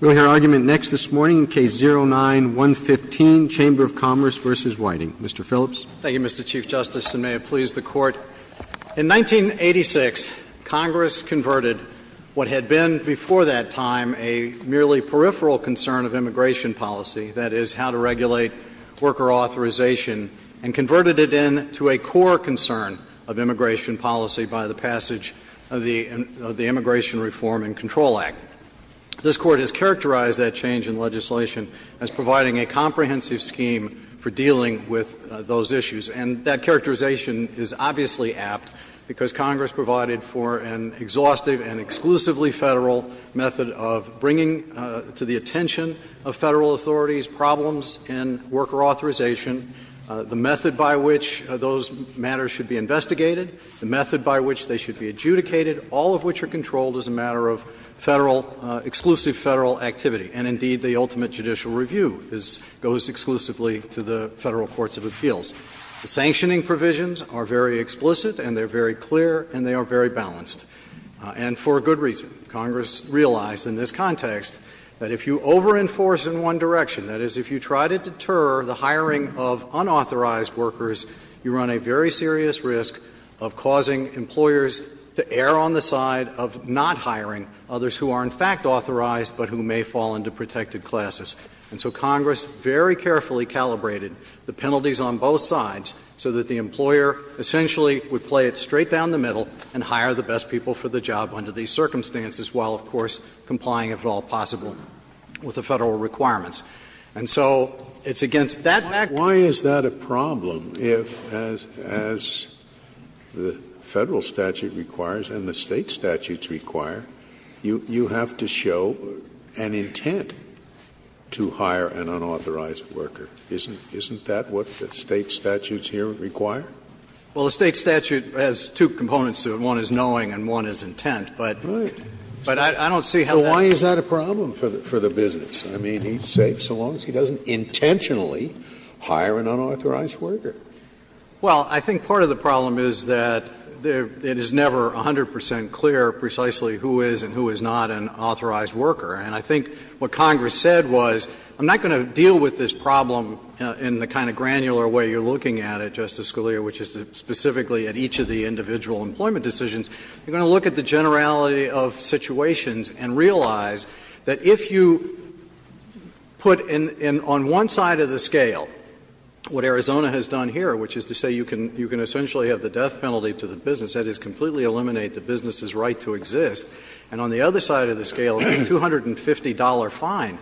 We will hear argument next this morning in Case 09-115, Chamber of Commerce v. Whiting. Mr. Phillips. Thank you, Mr. Chief Justice, and may it please the Court. In 1986, Congress converted what had been before that time a merely peripheral concern of immigration policy, that is, how to regulate worker authorization, and converted it into a core concern of immigration policy by the passage of the Immigration Reform and Control Act. This Court has characterized that change in legislation as providing a comprehensive scheme for dealing with those issues. And that characterization is obviously apt because Congress provided for an exhaustive and exclusively Federal method of bringing to the attention of Federal authorities problems in worker authorization, the method by which those matters should be investigated, the method by which they should be adjudicated, all of which are controlled as a matter of Federal, exclusive Federal activity. And indeed, the ultimate judicial review is goes exclusively to the Federal courts of appeals. The sanctioning provisions are very explicit and they are very clear and they are very balanced. And for good reason. Congress realized in this context that if you over-enforce in one direction, that is, if you try to deter the hiring of unauthorized workers, you run a very serious risk of causing employers to err on the side of not hiring others who are, in fact, authorized but who may fall into protected classes. And so Congress very carefully calibrated the penalties on both sides so that the employer essentially would play it straight down the middle and hire the best people for the job under these circumstances while, of course, complying, if at all possible, with the Federal requirements. And so it's against that background. Scalia. Why is that a problem if, as the Federal statute requires and the State statutes require, you have to show an intent to hire an unauthorized worker? Isn't that what the State statutes here require? Well, the State statute has two components to it. One is knowing and one is intent. But I don't see how that's a problem. So why is that a problem for the business? I mean, he's safe so long as he doesn't intentionally hire an unauthorized worker. Well, I think part of the problem is that it is never 100 percent clear precisely who is and who is not an authorized worker. And I think what Congress said was, I'm not going to deal with this problem in the kind of granular way you're looking at it, Justice Scalia. Which is specifically at each of the individual employment decisions. You're going to look at the generality of situations and realize that if you put in one side of the scale what Arizona has done here, which is to say you can essentially have the death penalty to the business, that is completely eliminate the business's right to exist, and on the other side of the scale, a $250 fine,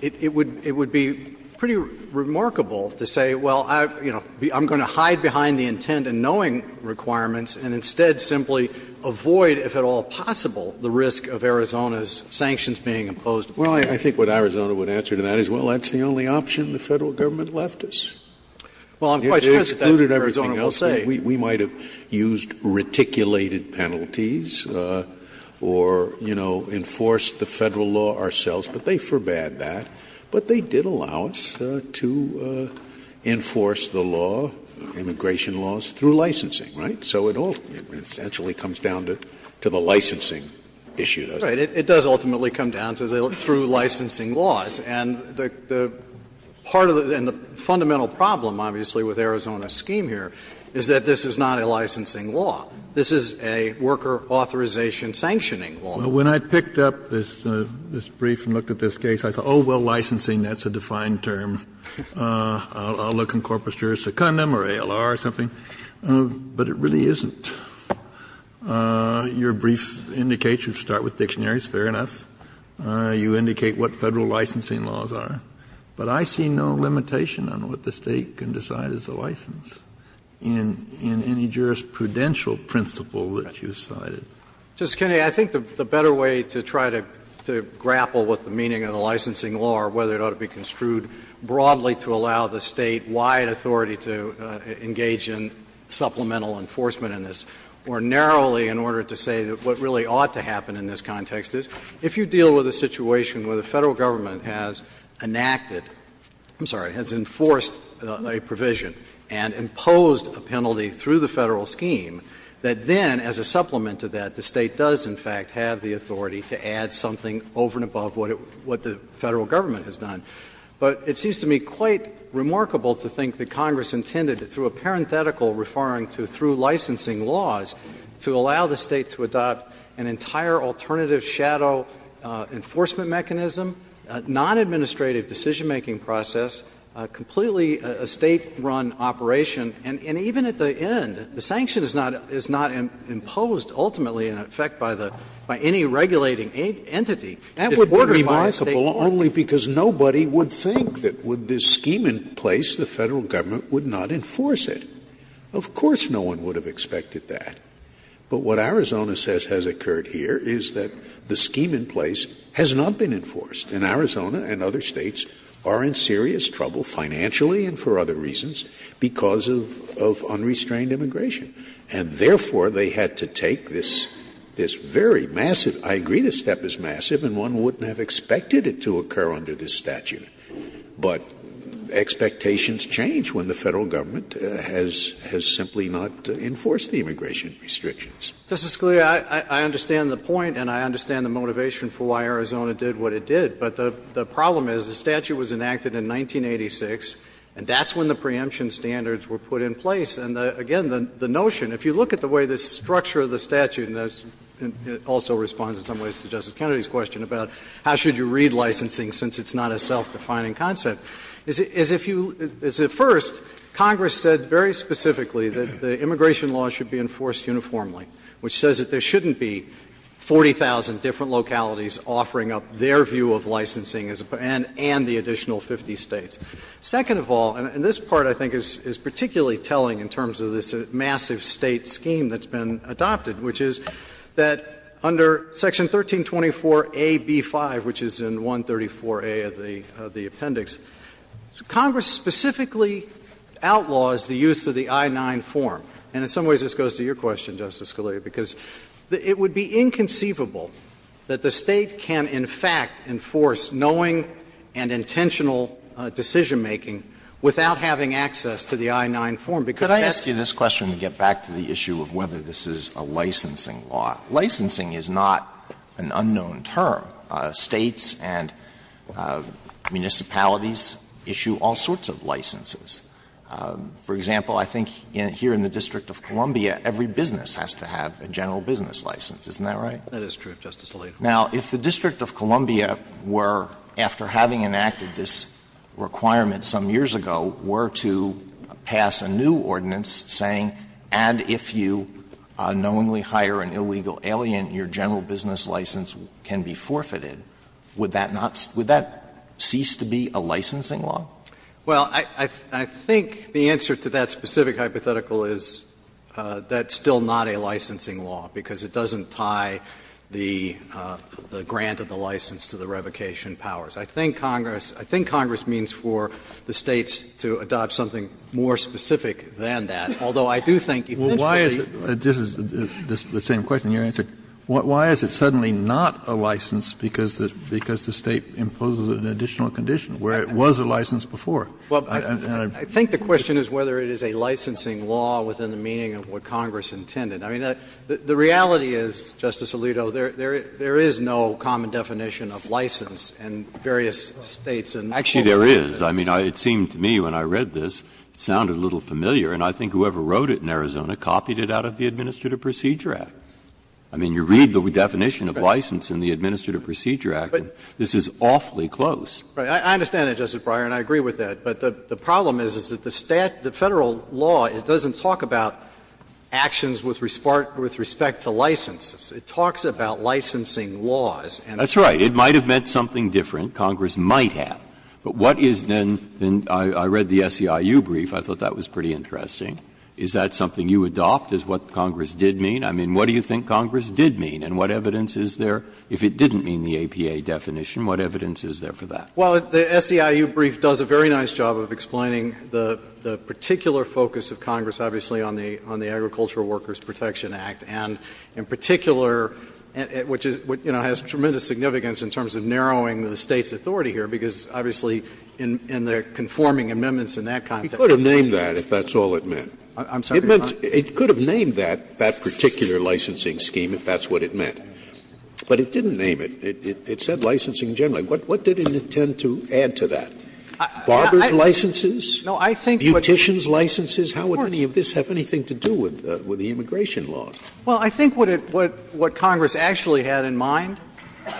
it would be pretty remarkable to say, well, you know, I'm going to hide behind the intent and knowing requirements and instead simply avoid, if at all possible, the risk of Arizona's sanctions being imposed. Well, I think what Arizona would answer to that is, well, that's the only option the Federal Government left us. Well, I'm quite sure that's what Arizona will say. We might have used reticulated penalties or, you know, enforced the Federal law ourselves, but they forbade that, but they did allow us to enforce the law, immigration laws, through licensing, right? So it all essentially comes down to the licensing issue, doesn't it? It does ultimately come down to through licensing laws. And the part of the fundamental problem, obviously, with Arizona's scheme here is that this is not a licensing law. This is a worker authorization sanctioning law. Well, when I picked up this brief and looked at this case, I thought, oh, well, licensing, that's a defined term. I'll look in corpus juris secundum or ALR or something, but it really isn't. Your brief indicates you start with dictionaries. Fair enough. You indicate what Federal licensing laws are. But I see no limitation on what the State can decide is a license in any jurisprudential principle that you cited. Justice Kennedy, I think the better way to try to grapple with the meaning of the licensing law or whether it ought to be construed broadly to allow the State-wide authority to engage in supplemental enforcement in this, or narrowly in order to say that what really ought to happen in this context is if you deal with a situation where the Federal Government has enacted — I'm sorry, has enforced a provision and imposed a penalty through the Federal scheme, that then, as a supplement to that, the State does, in fact, have the authority to add something over and above what the Federal Government has done. But it seems to me quite remarkable to think that Congress intended, through a parenthetical referring to through licensing laws, to allow the State to adopt an entire alternative shadow enforcement mechanism, a non-administrative decision-making process, completely a State-run operation, and even at the end, the sanction is not — is not imposed, ultimately, in effect, by the — by any regulating entity. That would be remarkable only because nobody would think that with this scheme in place, the Federal Government would not enforce it. Of course no one would have expected that. But what Arizona says has occurred here is that the scheme in place has not been in trouble financially and for other reasons because of unrestrained immigration. And therefore, they had to take this — this very massive — I agree this step is massive and one wouldn't have expected it to occur under this statute, but expectations change when the Federal Government has simply not enforced the immigration restrictions. Phillipson, I understand the point and I understand the motivation for why Arizona did what it did. But the problem is the statute was enacted in 1986, and that's when the preemption standards were put in place. And again, the notion, if you look at the way the structure of the statute, and it also responds in some ways to Justice Kennedy's question about how should you read licensing since it's not a self-defining concept, is if you — is if first, Congress said very specifically that the immigration laws should be enforced uniformly, which says that there shouldn't be 40,000 different localities offering up their view of licensing and the additional 50 States. Second of all, and this part I think is particularly telling in terms of this massive State scheme that's been adopted, which is that under Section 1324a)(b)(5), which is in 134a of the appendix, Congress specifically outlaws the use of the I-9 form, and in some ways this goes to your question, Justice Scalia, because it would be inconceivable that the State can, in fact, enforce knowing and intentional decision-making without having access to the I-9 form, because that's. Alito, could I ask you this question to get back to the issue of whether this is a licensing law? Licensing is not an unknown term. States and municipalities issue all sorts of licenses. For example, I think here in the District of Columbia, every business has to have a general business license. Isn't that right? That is true, Justice Alito. Now, if the District of Columbia were, after having enacted this requirement some years ago, were to pass a new ordinance saying, and if you knowingly hire an illegal alien, your general business license can be forfeited, would that not see to be a licensing law? Well, I think the answer to that specific hypothetical is that's still not a licensing law, because it doesn't tie the grant of the license to the revocation powers. I think Congress means for the States to adopt something more specific than that, although I do think eventually. Kennedy, this is the same question, your answer, why is it suddenly not a license because the State imposes an additional condition where it was a license before? I think the question is whether it is a licensing law within the meaning of what Congress intended. I mean, the reality is, Justice Alito, there is no common definition of license in various States and countries. Actually, there is. I mean, it seemed to me when I read this, it sounded a little familiar, and I think whoever wrote it in Arizona copied it out of the Administrative Procedure Act. I mean, you read the definition of license in the Administrative Procedure Act, and this is awfully close. I understand that, Justice Breyer, and I agree with that. But the problem is, is that the State, the Federal law, it doesn't talk about actions with respect to licenses. It talks about licensing laws. Breyer, that's right. It might have meant something different, Congress might have. But what is then the SEIU brief, I thought that was pretty interesting, is that something you adopt, is what Congress did mean? I mean, what do you think Congress did mean, and what evidence is there if it didn't mean the APA definition, what evidence is there for that? Well, the SEIU brief does a very nice job of explaining the particular focus of Congress, obviously, on the Agricultural Workers Protection Act, and in particular, which is, you know, has tremendous significance in terms of narrowing the State's authority here, because obviously in the conforming amendments in that context. It could have named that, if that's all it meant. I'm sorry, Your Honor. It could have named that, that particular licensing scheme, if that's what it meant. But it didn't name it. It said licensing generally. What did it intend to add to that? Barber's licenses? No, I think what's the point? Beautician's licenses? How would any of this have anything to do with the immigration laws? Well, I think what it what Congress actually had in mind,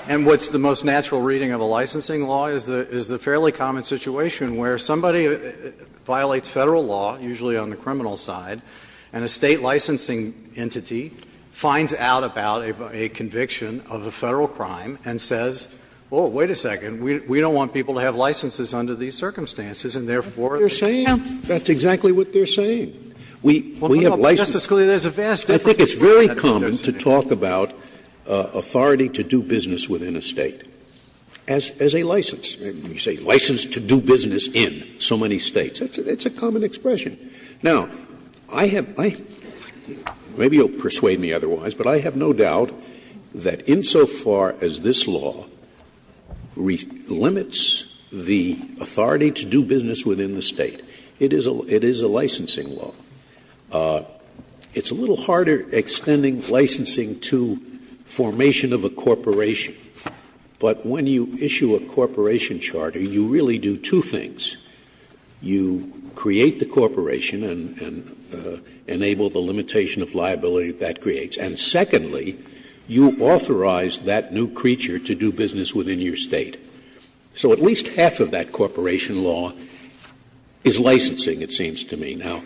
and what's the most natural reading of a licensing law, is the fairly common situation where somebody violates Federal law, usually on the criminal side, and a State licensing entity finds out about a conviction of a Federal crime and says, oh, wait a second, we don't want people to have licenses under these circumstances, and therefore, they can't. That's exactly what they're saying. We have licenses. Justice Scalia, there's a vast difference. I think it's very common to talk about authority to do business within a State as a license. You say license to do business in so many States. It's a common expression. Now, I have my – maybe you'll persuade me otherwise, but I have no doubt that insofar as this law limits the authority to do business within the State, it is a licensing law. It's a little harder extending licensing to formation of a corporation, but when you corporation and enable the limitation of liability that creates. And secondly, you authorize that new creature to do business within your State. So at least half of that corporation law is licensing, it seems to me. Now,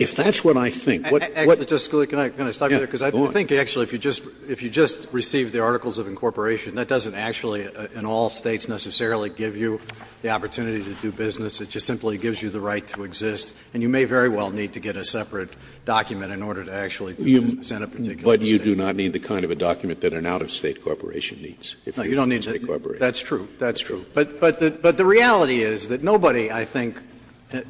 if that's what I think, what do you think? Phillips, I think actually if you just receive the articles of incorporation, that doesn't actually in all States necessarily give you the opportunity to do business. It just simply gives you the right to exist, and you may very well need to get a separate document in order to actually do business in a particular State. Scalia, but you do not need the kind of a document that an out-of-State corporation needs if you're an out-of-State corporation. Phillips, no, you don't need to. That's true. That's true. But the reality is that nobody, I think,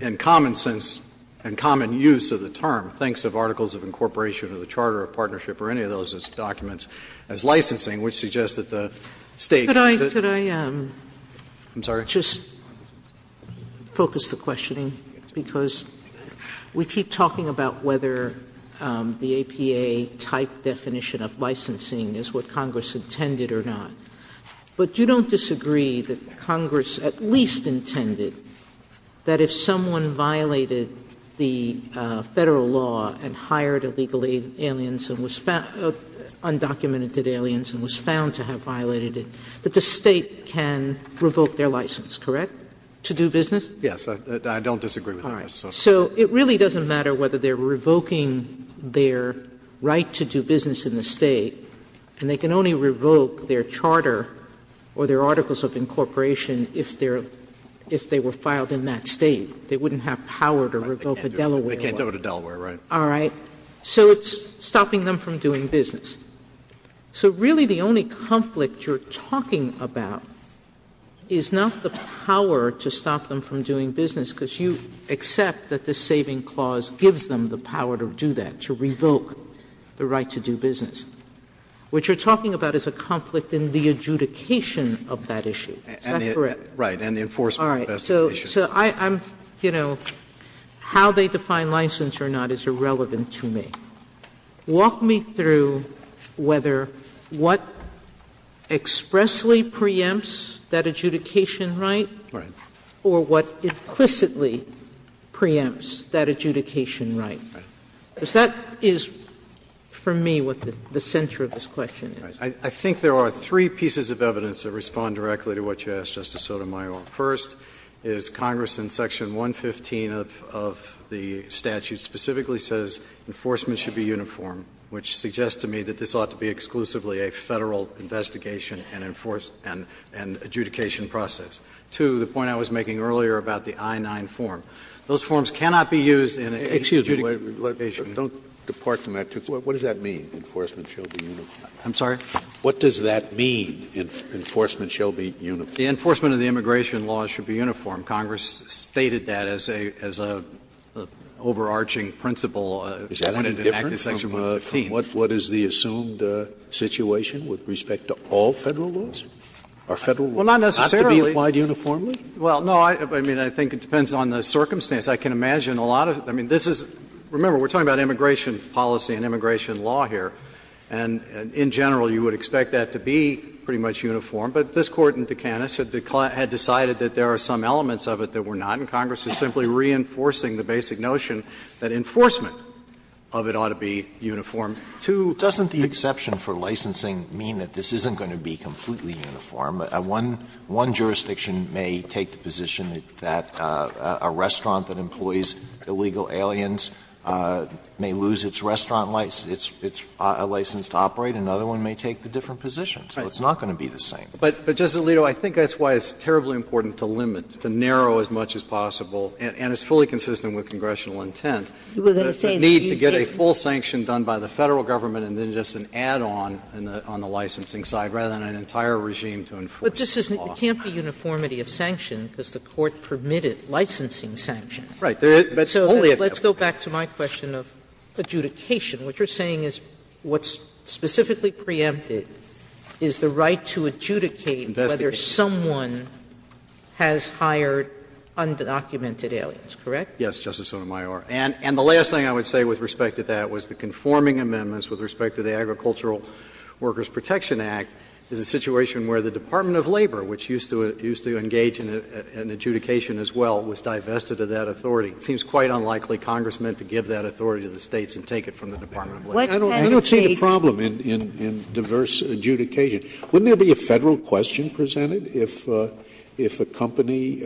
in common sense and common use of the term, thinks of articles of incorporation or the charter or partnership or any of those documents as licensing, which suggests that the State does it. Sotomayor, could I just focus the questioning, because we keep talking about whether the APA-type definition of licensing is what Congress intended or not, but you don't disagree that Congress at least intended that if someone violated the Federal law and hired illegal aliens and was found, undocumented aliens and was found to have a license, the State can revoke their license, correct, to do business? Phillips, yes. I don't disagree with that, Ms. Sotomayor. Sotomayor, so it really doesn't matter whether they're revoking their right to do business in the State, and they can only revoke their charter or their articles of incorporation if they're – if they were filed in that State. They wouldn't have power to revoke a Delaware law. Phillips, they can't do it. They can't do it in Delaware, right. Sotomayor, all right. So it's stopping them from doing business. So really the only conflict you're talking about is not the power to stop them from doing business, because you accept that the saving clause gives them the power to do that, to revoke the right to do business. What you're talking about is a conflict in the adjudication of that issue. Is that correct? Right, and the enforcement of that issue. All right. So I'm, you know, how they define license or not is irrelevant to me. Walk me through whether what expressly preempts that adjudication right or what implicitly preempts that adjudication right, because that is, for me, what the center of this question is. I think there are three pieces of evidence that respond directly to what you asked, Justice Sotomayor. First is Congress in section 115 of the statute specifically says enforcement should be uniform, which suggests to me that this ought to be exclusively a Federal investigation and adjudication process. Two, the point I was making earlier about the I-9 form, those forms cannot be used in an adjudication. Scalia, don't depart from that. What does that mean, enforcement shall be uniform? I'm sorry? What does that mean, enforcement shall be uniform? The enforcement of the immigration laws should be uniform. Congress stated that as a overarching principle when it enacted section 115. Is that any different from what is the assumed situation with respect to all Federal laws? Are Federal laws not to be applied uniformly? Well, not necessarily. Well, no, I mean, I think it depends on the circumstance. I can imagine a lot of this is — remember, we're talking about immigration policy and immigration law here, and in general you would expect that to be pretty much uniform, but this Court in Dukanis had decided that there are some elements of it that were not, and Congress is simply reinforcing the basic notion that enforcement of it ought to be uniform. Two, doesn't the exception for licensing mean that this isn't going to be completely uniform? One jurisdiction may take the position that a restaurant that employs illegal aliens may lose its restaurant license, its license to operate, and another one may take a different position. So it's not going to be the same. But, Justice Alito, I think that's why it's terribly important to limit, to narrow as much as possible, and it's fully consistent with congressional intent. You were going to say that you think that's the case. The need to get a full sanction done by the Federal Government and then just an add-on on the licensing side rather than an entire regime to enforce the law. But this isn't — it can't be uniformity of sanction because the Court permitted licensing sanction. Right. But only if it's a question of adjudication. What you're saying is what's specifically preempted is the right to adjudicate whether someone has hired undocumented aliens, correct? Yes, Justice Sotomayor. And the last thing I would say with respect to that was the conforming amendments with respect to the Agricultural Workers Protection Act is a situation where the Department of Labor, which used to engage in adjudication as well, was divested of that authority. It seems quite unlikely Congress meant to give that authority to the States and take it from the Department of Labor. I don't see the problem in diverse adjudication. Wouldn't there be a Federal question presented if a company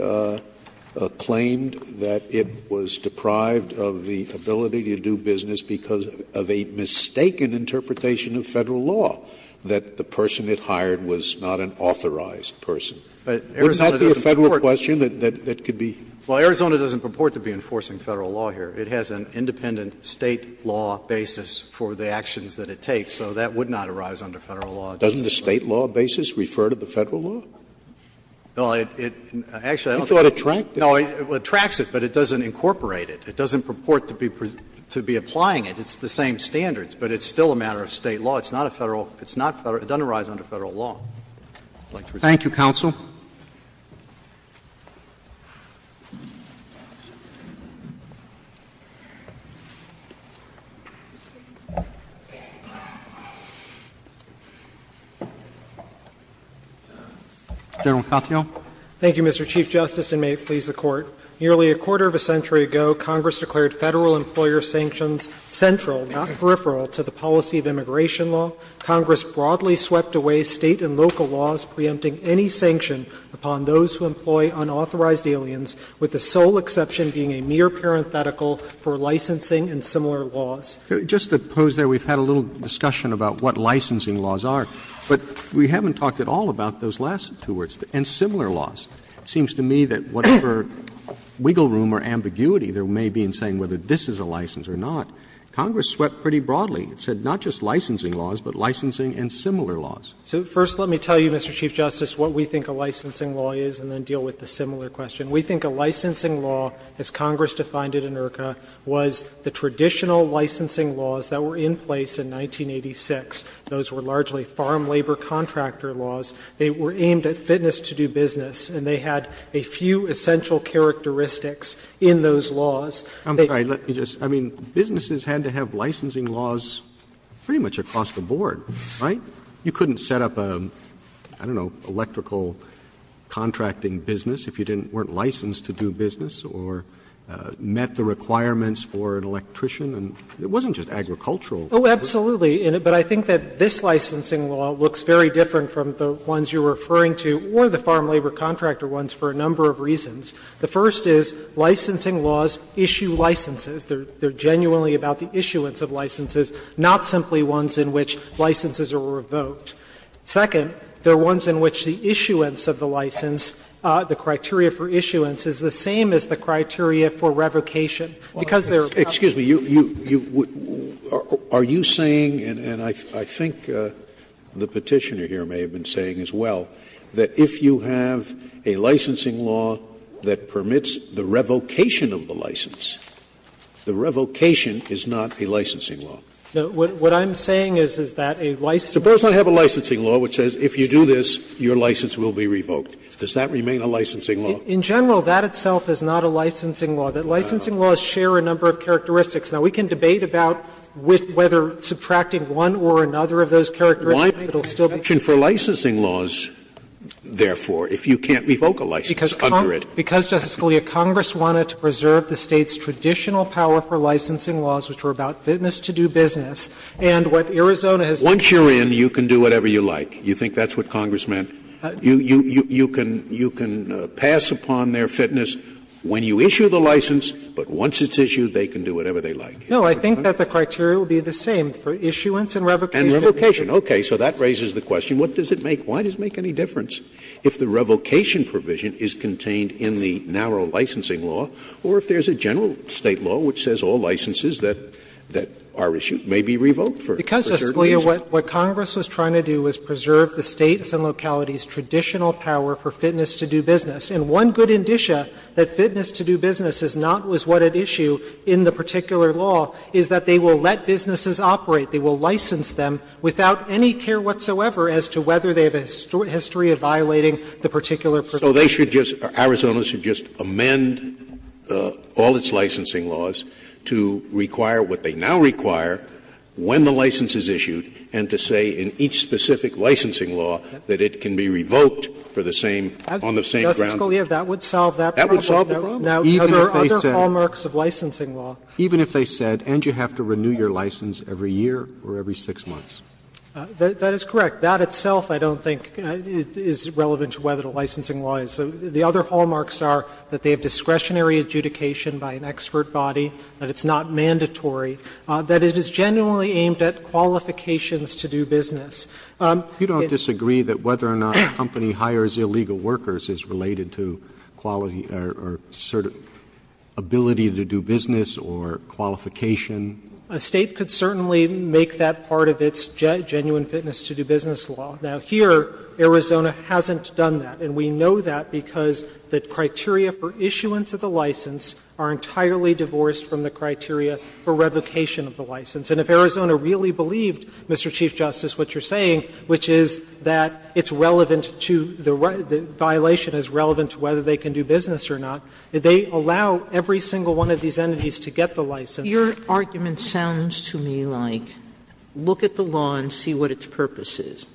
claimed that it was deprived of the ability to do business because of a mistaken interpretation of Federal law that the person it hired was not an authorized person? Wouldn't that be a Federal question that could be? Well, Arizona doesn't purport to be enforcing Federal law here. It has an independent State law basis for the actions that it takes, so that would not arise under Federal law. Doesn't the State law basis refer to the Federal law? Well, it actually, I don't think it does. You thought it tracked it? No, it tracks it, but it doesn't incorporate it. It doesn't purport to be applying it. It's the same standards, but it's still a matter of State law. It's not a Federal law. It's not Federal. It doesn't arise under Federal law. I would like to respond. Thank you, counsel. General Katyal. Thank you, Mr. Chief Justice, and may it please the Court. Nearly a quarter of a century ago, Congress declared Federal employer sanctions central, not peripheral, to the policy of immigration law. Congress broadly swept away State and local laws preempting any sanction upon those who employ unauthorized aliens, with the sole exception being a mere parenthetical for licensing and similar laws. Just to pose there, we've had a little discussion about what licensing laws are, but we haven't talked at all about those last two words, and similar laws. It seems to me that whatever wiggle room or ambiguity there may be in saying whether this is a license or not, Congress swept pretty broadly. It said not just licensing laws, but licensing and similar laws. So first let me tell you, Mr. Chief Justice, what we think a licensing law is, and then deal with the similar question. We think a licensing law, as Congress defined it in IRCA, was the traditional licensing laws that were in place in 1986. Those were largely farm labor contractor laws. They were aimed at fitness to do business, and they had a few essential characteristics in those laws. Roberts, I'm sorry, let me just, I mean, businesses had to have licensing laws pretty much across the board, right? You couldn't set up a, I don't know, electrical contracting business if you didn't weren't licensed to do business or met the requirements for an electrician. And it wasn't just agricultural. Oh, absolutely. But I think that this licensing law looks very different from the ones you're referring to or the farm labor contractor ones for a number of reasons. The first is licensing laws issue licenses. They're genuinely about the issuance of licenses, not simply ones in which licenses are revoked. Second, they're ones in which the issuance of the license, the criteria for issuance, is the same as the criteria for revocation, because they're covered. Scalia, are you saying, and I think the Petitioner here may have been saying as well, that if you have a licensing law that permits the revocation of the license, the revocation is not a licensing law? What I'm saying is, is that a licensing law? Suppose I have a licensing law which says if you do this, your license will be revoked. Does that remain a licensing law? In general, that itself is not a licensing law. Licensing laws share a number of characteristics. Now, we can debate about whether subtracting one or another of those characteristics it will still be. Scalia, the question for licensing laws, therefore, if you can't revoke a license, under it. Because, Justice Scalia, Congress wanted to preserve the State's traditional power for licensing laws, which were about fitness to do business, and what Arizona has done is to do business. Once you're in, you can do whatever you like. You think that's what Congress meant? You can pass upon their fitness when you issue the license, but once it's issued, they can do whatever they like. No, I think that the criteria would be the same for issuance and revocation. And revocation. Okay. So that raises the question, what does it make? Why does it make any difference if the revocation provision is contained in the narrow licensing law, or if there's a general State law which says all licenses that are issued may be revoked for certain reasons? Because, Justice Scalia, what Congress was trying to do was preserve the State's and locality's traditional power for fitness to do business. And one good indicia that fitness to do business is not what was at issue in the particular law is that they will let businesses operate. They will license them without any care whatsoever as to whether they have a history of violating the particular provision. So they should just or Arizona should just amend all its licensing laws to require what they now require when the license is issued and to say in each specific licensing law that it can be revoked for the same, on the same ground. Justice Scalia, that would solve that problem. That would solve the problem. Now, there are other hallmarks of licensing law. Even if they said, and you have to renew your license every year or every six months. That is correct. That itself I don't think is relevant to whether the licensing law is. The other hallmarks are that they have discretionary adjudication by an expert body, that it's not mandatory, that it is genuinely aimed at qualifications to do business. You don't disagree that whether or not a company hires illegal workers is related to quality or sort of ability to do business or qualification? A State could certainly make that part of its genuine fitness to do business law. Now, here Arizona hasn't done that. And we know that because the criteria for issuance of the license are entirely divorced from the criteria for revocation of the license. And if Arizona really believed, Mr. Chief Justice, what you're saying, which is that it's relevant to the violation is relevant to whether they can do business or not, they allow every single one of these entities to get the license. Sotomayor, your argument sounds to me like, look at the law and see what its purpose is.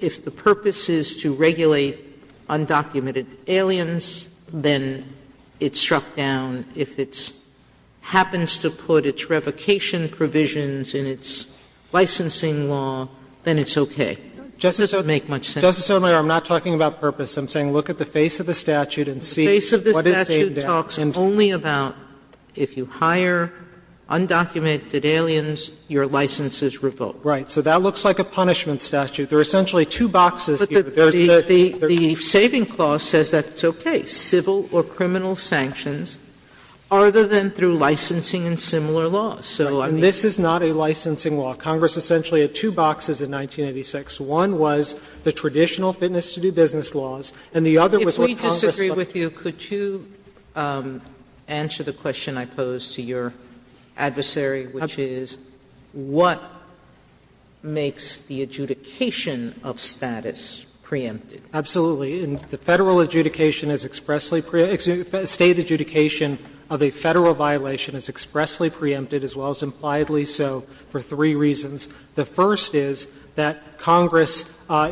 If the purpose is to regulate undocumented aliens, then it's struck down. If it happens to put its revocation provisions in its licensing law, then it's okay. It doesn't make much sense. Justice Sotomayor, I'm not talking about purpose. I'm saying look at the face of the statute and see what it's aimed at. The face of the statute talks only about if you hire undocumented aliens, your license is revoked. Right. So that looks like a punishment statute. There are essentially two boxes here. The saving clause says that it's okay, civil or criminal sanctions, other than through licensing and similar laws. So I mean you can't do business. And this is not a licensing law. Congress essentially had two boxes in 1986. One was the traditional fitness to do business laws, and the other was what Congress thought was the traditional fitness to do business laws. Sotomayor, if we disagree with you, could you answer the question I posed to your adversary, which is what makes the adjudication of status preempted? Absolutely. The Federal adjudication is expressly preempted, State adjudication of a Federal violation is expressly preempted, as well as impliedly so, for three reasons. The first is that Congress,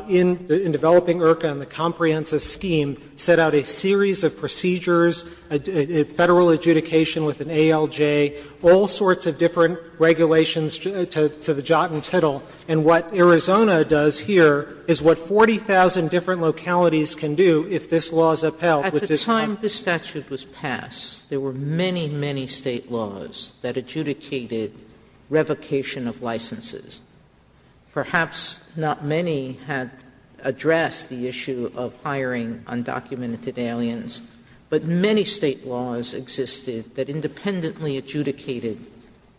in developing IRCA and the Comprehensive Scheme, set out a series of procedures, Federal adjudication with an ALJ, all sorts of different regulations to the jot and tittle. And what Arizona does here is what 40,000 different localities can do if this law is upheld. Sotomayor, at the time this statute was passed, there were many, many State laws that adjudicated revocation of licenses. Perhaps not many had addressed the issue of hiring undocumented aliens, but many State laws existed that independently adjudicated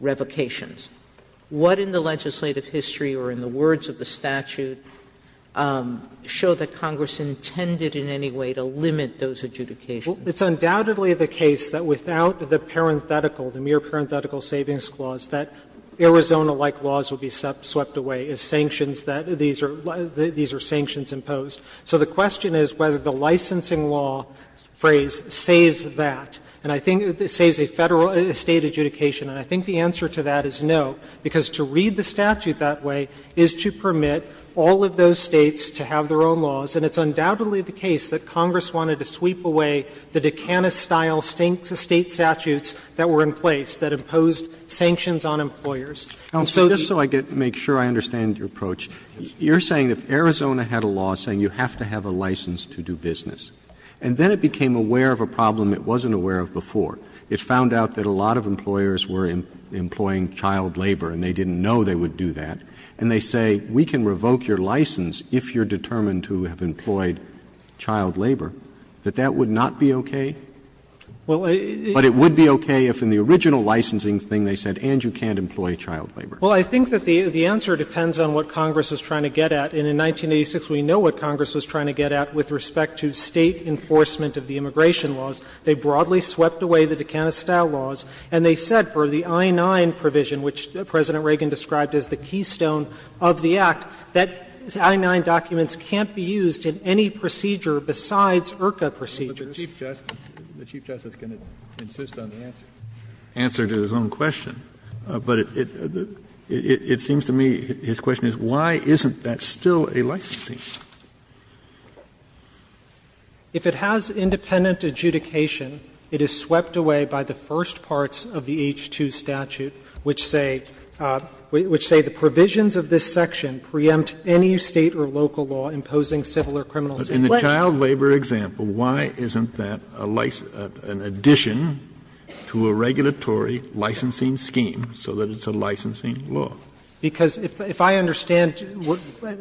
revocations. What in the legislative history or in the words of the statute show that Congress intended in any way to limit those adjudications? It's undoubtedly the case that without the parenthetical, the mere parenthetical savings clause, that Arizona-like laws would be swept away as sanctions that these are, these are sanctions imposed. So the question is whether the licensing law phrase saves that, and I think it saves a Federal State adjudication. And I think the answer to that is no, because to read the statute that way is to permit all of those States to have their own laws, and it's undoubtedly the case that Congress wanted to sweep away the Dukanis-style State statutes that were in place that imposed sanctions on employers. And so these are sanctions imposed by the State. Roberts, just so I can make sure I understand your approach, you're saying if Arizona had a law saying you have to have a license to do business, and then it became aware of a problem it wasn't aware of before. It found out that a lot of employers were employing child labor and they didn't know they would do that, and they say, we can revoke your license if you're determined to have employed child labor, that that would not be okay? But it would be okay if in the original licensing thing they said, and you can't employ child labor. Well, I think that the answer depends on what Congress was trying to get at. And in 1986, we know what Congress was trying to get at with respect to State enforcement of the immigration laws. They broadly swept away the Dukanis-style laws, and they said for the I-9 provision, which President Reagan described as the keystone of the Act, that I-9 documents can't be used in any procedure besides IRCA procedures. Kennedy, the Chief Justice is going to insist on the answer to his own question. But it seems to me his question is, why isn't that still a licensing? If it has independent adjudication, it is swept away by the first parts of the H-2 statute, which say, which say the provisions of this section preempt any State or local law imposing civil or criminal sanctions. In the child labor example, why isn't that a license, an addition to a regulatory licensing scheme so that it's a licensing law? Because if I understand,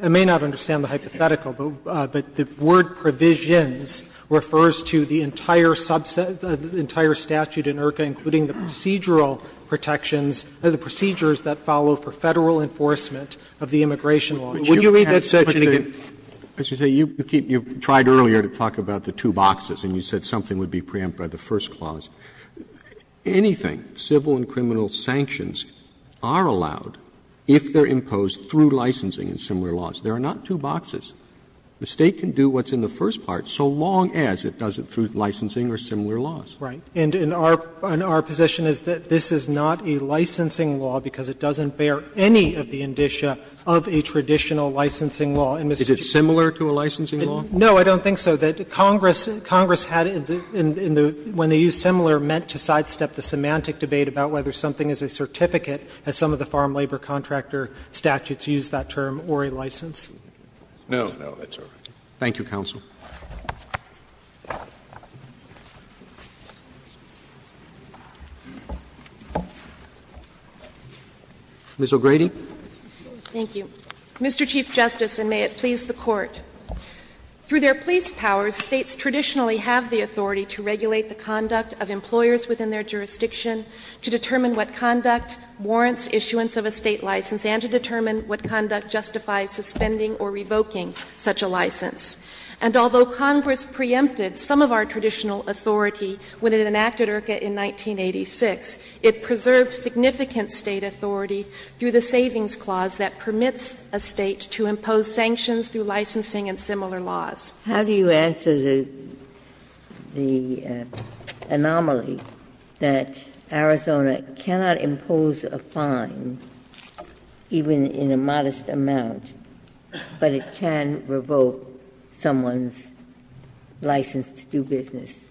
I may not understand the hypothetical, but the word provisions refers to the entire subset, the entire statute in IRCA, including the procedural protections, the procedures that follow for Federal enforcement of the immigration law. Would you read that section again? Roberts, as you say, you keep you tried earlier to talk about the two boxes and you said something would be preempted by the first clause. Anything, civil and criminal sanctions are allowed if they are imposed through licensing and similar laws. There are not two boxes. The State can do what's in the first part so long as it does it through licensing or similar laws. Right. And in our position is that this is not a licensing law because it doesn't bear any of the indicia of a traditional licensing law. Is it similar to a licensing law? No, I don't think so. Congress had, when they used similar, meant to sidestep the semantic debate about whether something is a certificate, as some of the farm labor contractor statutes use that term, or a license. No, no, that's all right. Thank you, counsel. Ms. O'Grady. Thank you. Mr. Chief Justice, and may it please the Court. Through their police powers, States traditionally have the authority to regulate the conduct of employers within their jurisdiction to determine what conduct warrants issuance of a State license and to determine what conduct justifies suspending or revoking such a license. And although Congress preempted some of our traditional authority when it enacted IRCA in 1986, it preserved significant State authority through the Savings Clause that permits a State to impose sanctions through licensing and similar laws. How do you answer the anomaly that Arizona cannot impose a fine, even in a modest amount, but it can revoke someone's license to do business?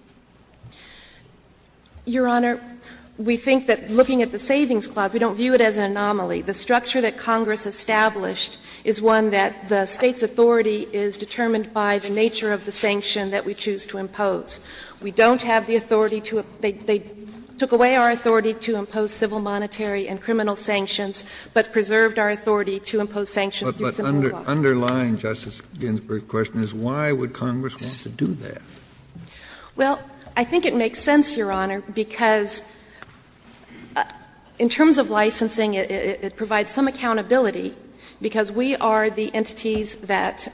Your Honor, we think that looking at the Savings Clause, we don't view it as an anomaly. The structure that Congress established is one that the State's authority is determined by the nature of the sanction that we choose to impose. We don't have the authority to impose they took away our authority to impose civil sanctions through the Savings Clause. Kennedy, but underlying Justice Ginsburg's question is why would Congress want to do that? Well, I think it makes sense, Your Honor, because in terms of licensing, it provides some accountability, because we are the entities that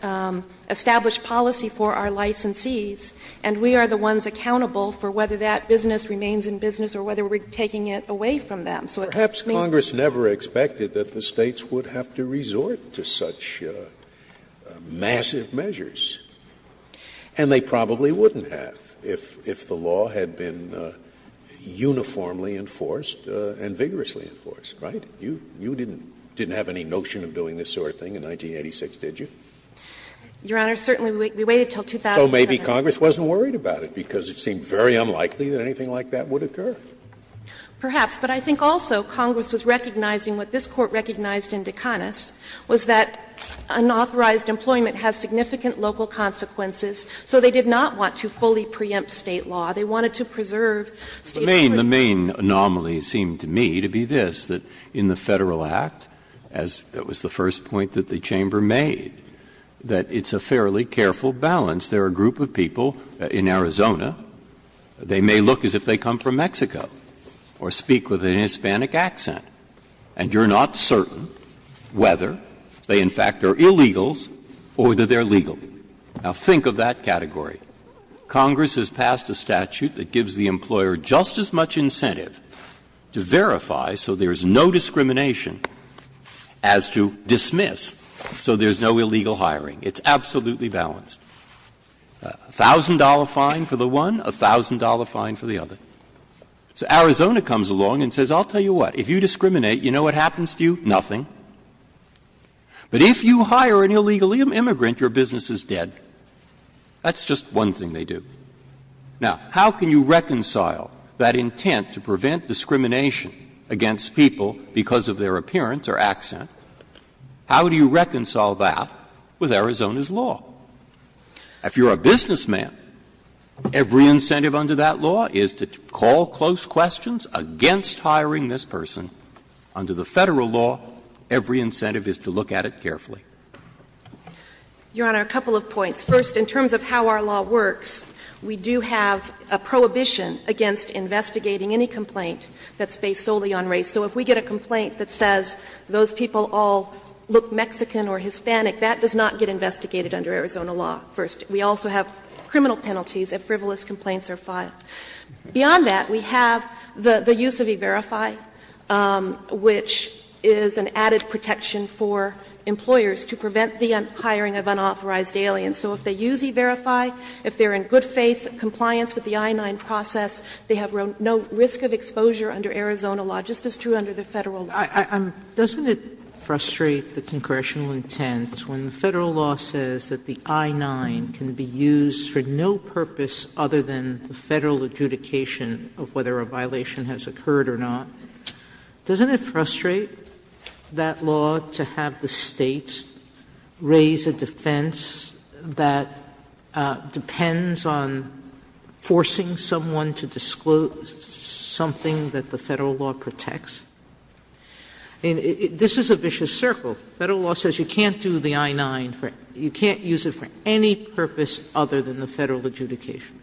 establish policy for our licensees, and we are the ones accountable for whether that business remains in business or whether we're taking it away from them. So it makes sense. Perhaps Congress never expected that the States would have to resort to such massive measures, and they probably wouldn't have if the law had been uniformly enforced and vigorously enforced, right? You didn't have any notion of doing this sort of thing in 1986, did you? Your Honor, certainly we waited until 2007. So maybe Congress wasn't worried about it, because it seemed very unlikely that anything like that would occur. Perhaps. But I think also Congress was recognizing what this Court recognized in DeCanis was that unauthorized employment has significant local consequences, so they did not want to fully preempt State law. They wanted to preserve State's freedom. The main anomaly seemed to me to be this, that in the Federal Act, as was the first point that the chamber made, that it's a fairly careful balance. There are a group of people in Arizona. They may look as if they come from Mexico or speak with an Hispanic accent, and you're not certain whether they in fact are illegals or that they're legal. Now, think of that category. Congress has passed a statute that gives the employer just as much incentive to verify so there's no discrimination as to dismiss so there's no illegal hiring. It's absolutely balanced. A thousand-dollar fine for the one, a thousand-dollar fine for the other. So Arizona comes along and says, I'll tell you what, if you discriminate, you know what happens to you? Nothing. But if you hire an illegal immigrant, your business is dead. That's just one thing they do. Now, how can you reconcile that intent to prevent discrimination against people because of their appearance or accent? How do you reconcile that with Arizona's law? If you're a businessman, every incentive under that law is to call close questions against hiring this person. Under the Federal law, every incentive is to look at it carefully. Your Honor, a couple of points. First, in terms of how our law works, we do have a prohibition against investigating any complaint that's based solely on race. So if we get a complaint that says those people all look Mexican or Hispanic, that does not get investigated under Arizona law, first. We also have criminal penalties if frivolous complaints are filed. Beyond that, we have the use of E-Verify, which is an added protection for employers to prevent the hiring of unauthorized aliens. So if they use E-Verify, if they're in good faith compliance with the I-9 process, they have no risk of exposure under Arizona law, just as true under the Federal law. Sotomayor, I'm — doesn't it frustrate the congressional intent when the Federal law says that the I-9 can be used for no purpose other than the Federal adjudication of whether a violation has occurred or not? Doesn't it frustrate that law to have the States raise a defense that depends on forcing someone to disclose something that the Federal law protects? This is a vicious circle. Federal law says you can't do the I-9 for — you can't use it for any purpose other than the Federal adjudication.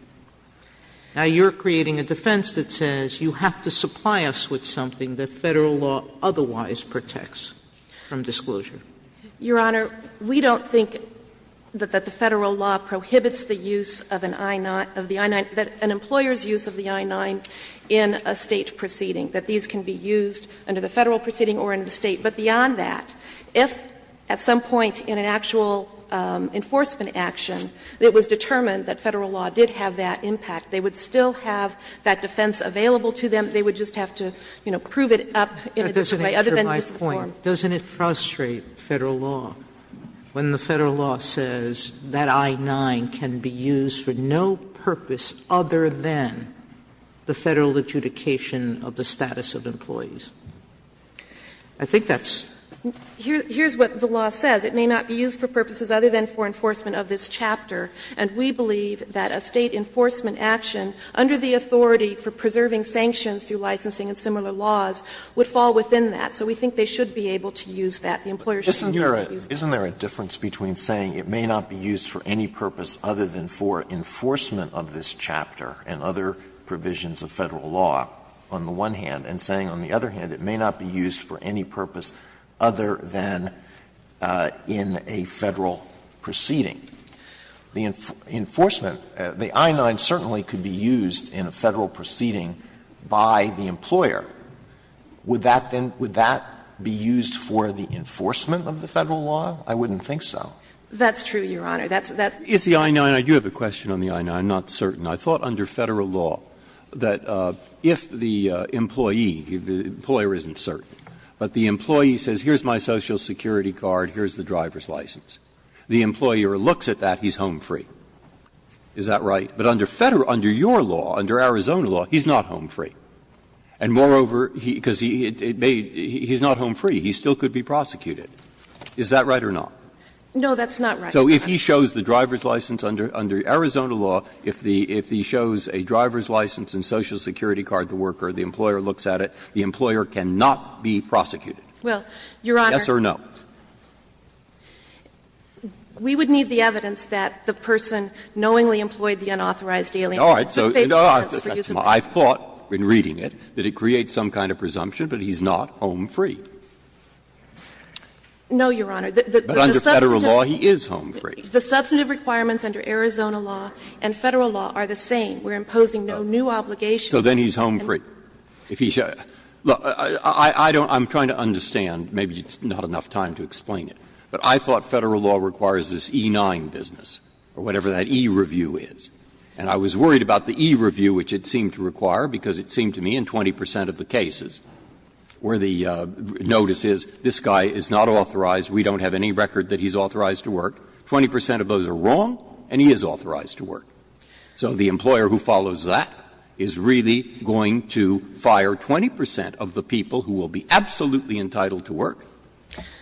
Now, you're creating a defense that says you have to supply us with something that Federal law otherwise protects from disclosure. Your Honor, we don't think that the Federal law prohibits the use of an I-9 — of the I-9 — an employer's use of the I-9 in a State proceeding, that these can be used under the Federal proceeding or in the State. But beyond that, if at some point in an actual enforcement action it was determined that Federal law did have that impact, they would still have that defense available to them. They would just have to, you know, prove it up in a different way other than just the form. Sotomayor, doesn't it frustrate Federal law when the Federal law says that I-9 can be used for no purpose other than the Federal adjudication of the status of employees? I think that's — Here's what the law says. It may not be used for purposes other than for enforcement of this chapter. And we believe that a State enforcement action under the authority for preserving sanctions through licensing and similar laws would fall within that. So we think they should be able to use that. The employer should be able to use that. Alito, isn't there a difference between saying it may not be used for any purpose other than for enforcement of this chapter and other provisions of Federal law on the one hand, and saying on the other hand it may not be used for any purpose other than in a Federal proceeding? The enforcement, the I-9 certainly could be used in a Federal proceeding by the employer. Would that then — would that be used for the enforcement of the Federal law? I wouldn't think so. That's true, Your Honor. That's — that's— Breyer, you have a question on the I-9. I'm not certain. I thought under Federal law that if the employee, the employer isn't certain, but the employee says here's my Social Security card, here's the driver's license, the employer looks at that, he's home free. Is that right? But under Federal — under your law, under Arizona law, he's not home free. And moreover, because he's not home free, he still could be prosecuted. Is that right or not? No, that's not right, Your Honor. So if he shows the driver's license under Arizona law, if he shows a driver's license and Social Security card to the worker, the employer looks at it, the employer cannot be prosecuted? Well, Your Honor, we would need the evidence that the person knowingly employed I thought, in reading it, that it creates some kind of presumption, but he's not home free. No, Your Honor. But under Federal law, he is home free. The substantive requirements under Arizona law and Federal law are the same. We're imposing no new obligations. So then he's home free. If he — look, I don't — I'm trying to understand. Maybe it's not enough time to explain it. But I thought Federal law requires this E-9 business or whatever that E-review is. And I was worried about the E-review, which it seemed to require, because it seemed to me in 20 percent of the cases where the notice is, this guy is not authorized, we don't have any record that he's authorized to work, 20 percent of those are wrong and he is authorized to work. So the employer who follows that is really going to fire 20 percent of the people who will be absolutely entitled to work.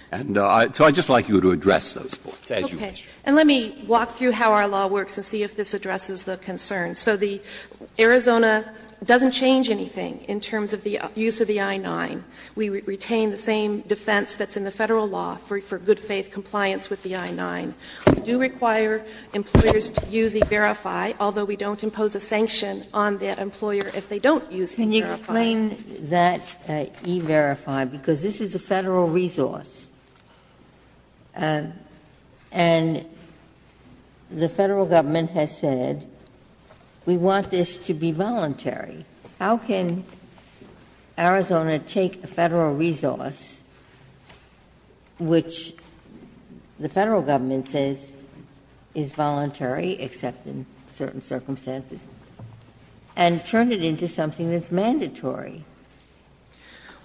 And so I'd just like you to address those points as you wish. And let me walk through how our law works and see if this addresses the concerns. So the — Arizona doesn't change anything in terms of the use of the I-9. We retain the same defense that's in the Federal law for good faith compliance with the I-9. We do require employers to use E-verify, although we don't impose a sanction on that employer if they don't use E-verify. Ginsburg. Can you explain that E-verify, because this is a Federal resource, and the Federal government has said we want this to be voluntary. How can Arizona take a Federal resource, which the Federal government says is voluntary except in certain circumstances, and turn it into something that's mandatory?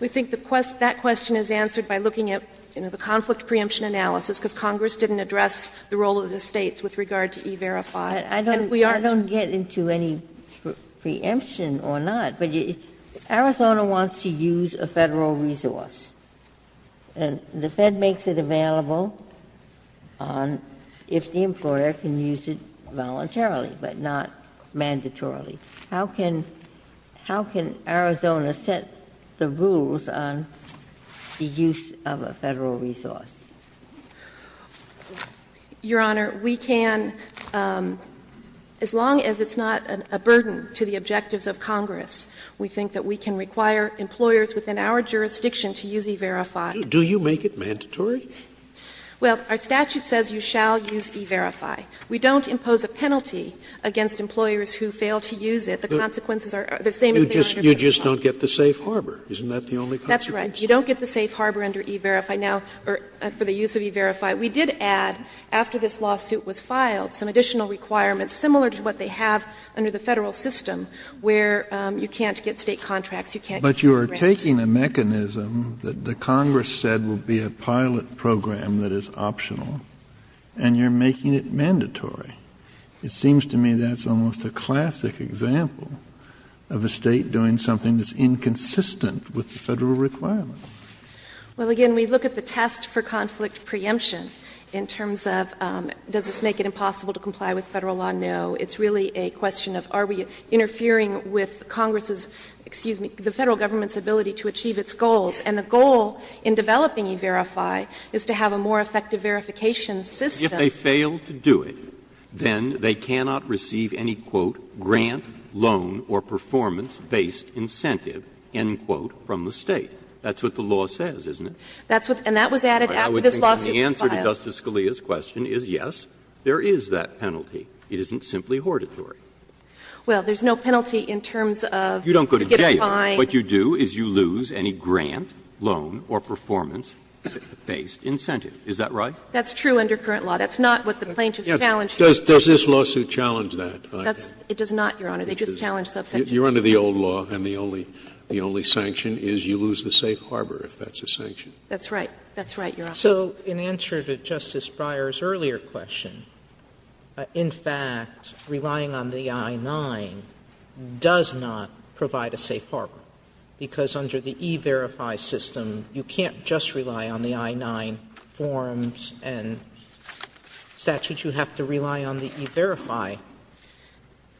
We think the quest — that question is answered by looking at, you know, the conflict preemption analysis, because Congress didn't address the role of the States with regard to E-verify. And we are— I don't get into any preemption or not, but Arizona wants to use a Federal resource. And the Fed makes it available on if the employer can use it voluntarily, but not mandatorily. How can — how can Arizona set the rules on the use of a Federal resource? Your Honor, we can, as long as it's not a burden to the objectives of Congress. We think that we can require employers within our jurisdiction to use E-verify. Do you make it mandatory? Well, our statute says you shall use E-verify. We don't impose a penalty against employers who fail to use it. The consequences are the same as they are under Federal law. You just don't get the safe harbor. Isn't that the only consequence? That's right. You don't get the safe harbor under E-verify. Now, for the use of E-verify, we did add, after this lawsuit was filed, some additional requirements similar to what they have under the Federal system, where you can't get State contracts, you can't get State grants. But you are taking a mechanism that the Congress said would be a pilot program that is optional, and you're making it mandatory. It seems to me that's almost a classic example of a State doing something that's inconsistent with the Federal requirement. Well, again, we look at the test for conflict preemption in terms of does this make it impossible to comply with Federal law? No. It's really a question of are we interfering with Congress's, excuse me, the Federal government's ability to achieve its goals, and the goal in developing E-verify is to have a more effective verification system. If they fail to do it, then they cannot receive any, quote, grant, loan, or performance-based incentive, end quote, from the State. That's what the law says, isn't it? And the answer to Justice Scalia's question is, yes, there is that penalty. It isn't simply hortatory. Well, there's no penalty in terms of getting fined. What you do is you lose any grant, loan, or performance-based incentive. Is that right? That's true under current law. That's not what the plaintiffs challenged. Does this lawsuit challenge that? It does not, Your Honor. They just challenge subsection. You're under the old law, and the only sanction is you lose the safe harbor, if that's a sanction. That's right. That's right, Your Honor. So in answer to Justice Breyer's earlier question, in fact, relying on the I-9 does not provide a safe harbor, because under the E-verify system, you can't just rely on the I-9 forms and statutes. You have to rely on the E-verify.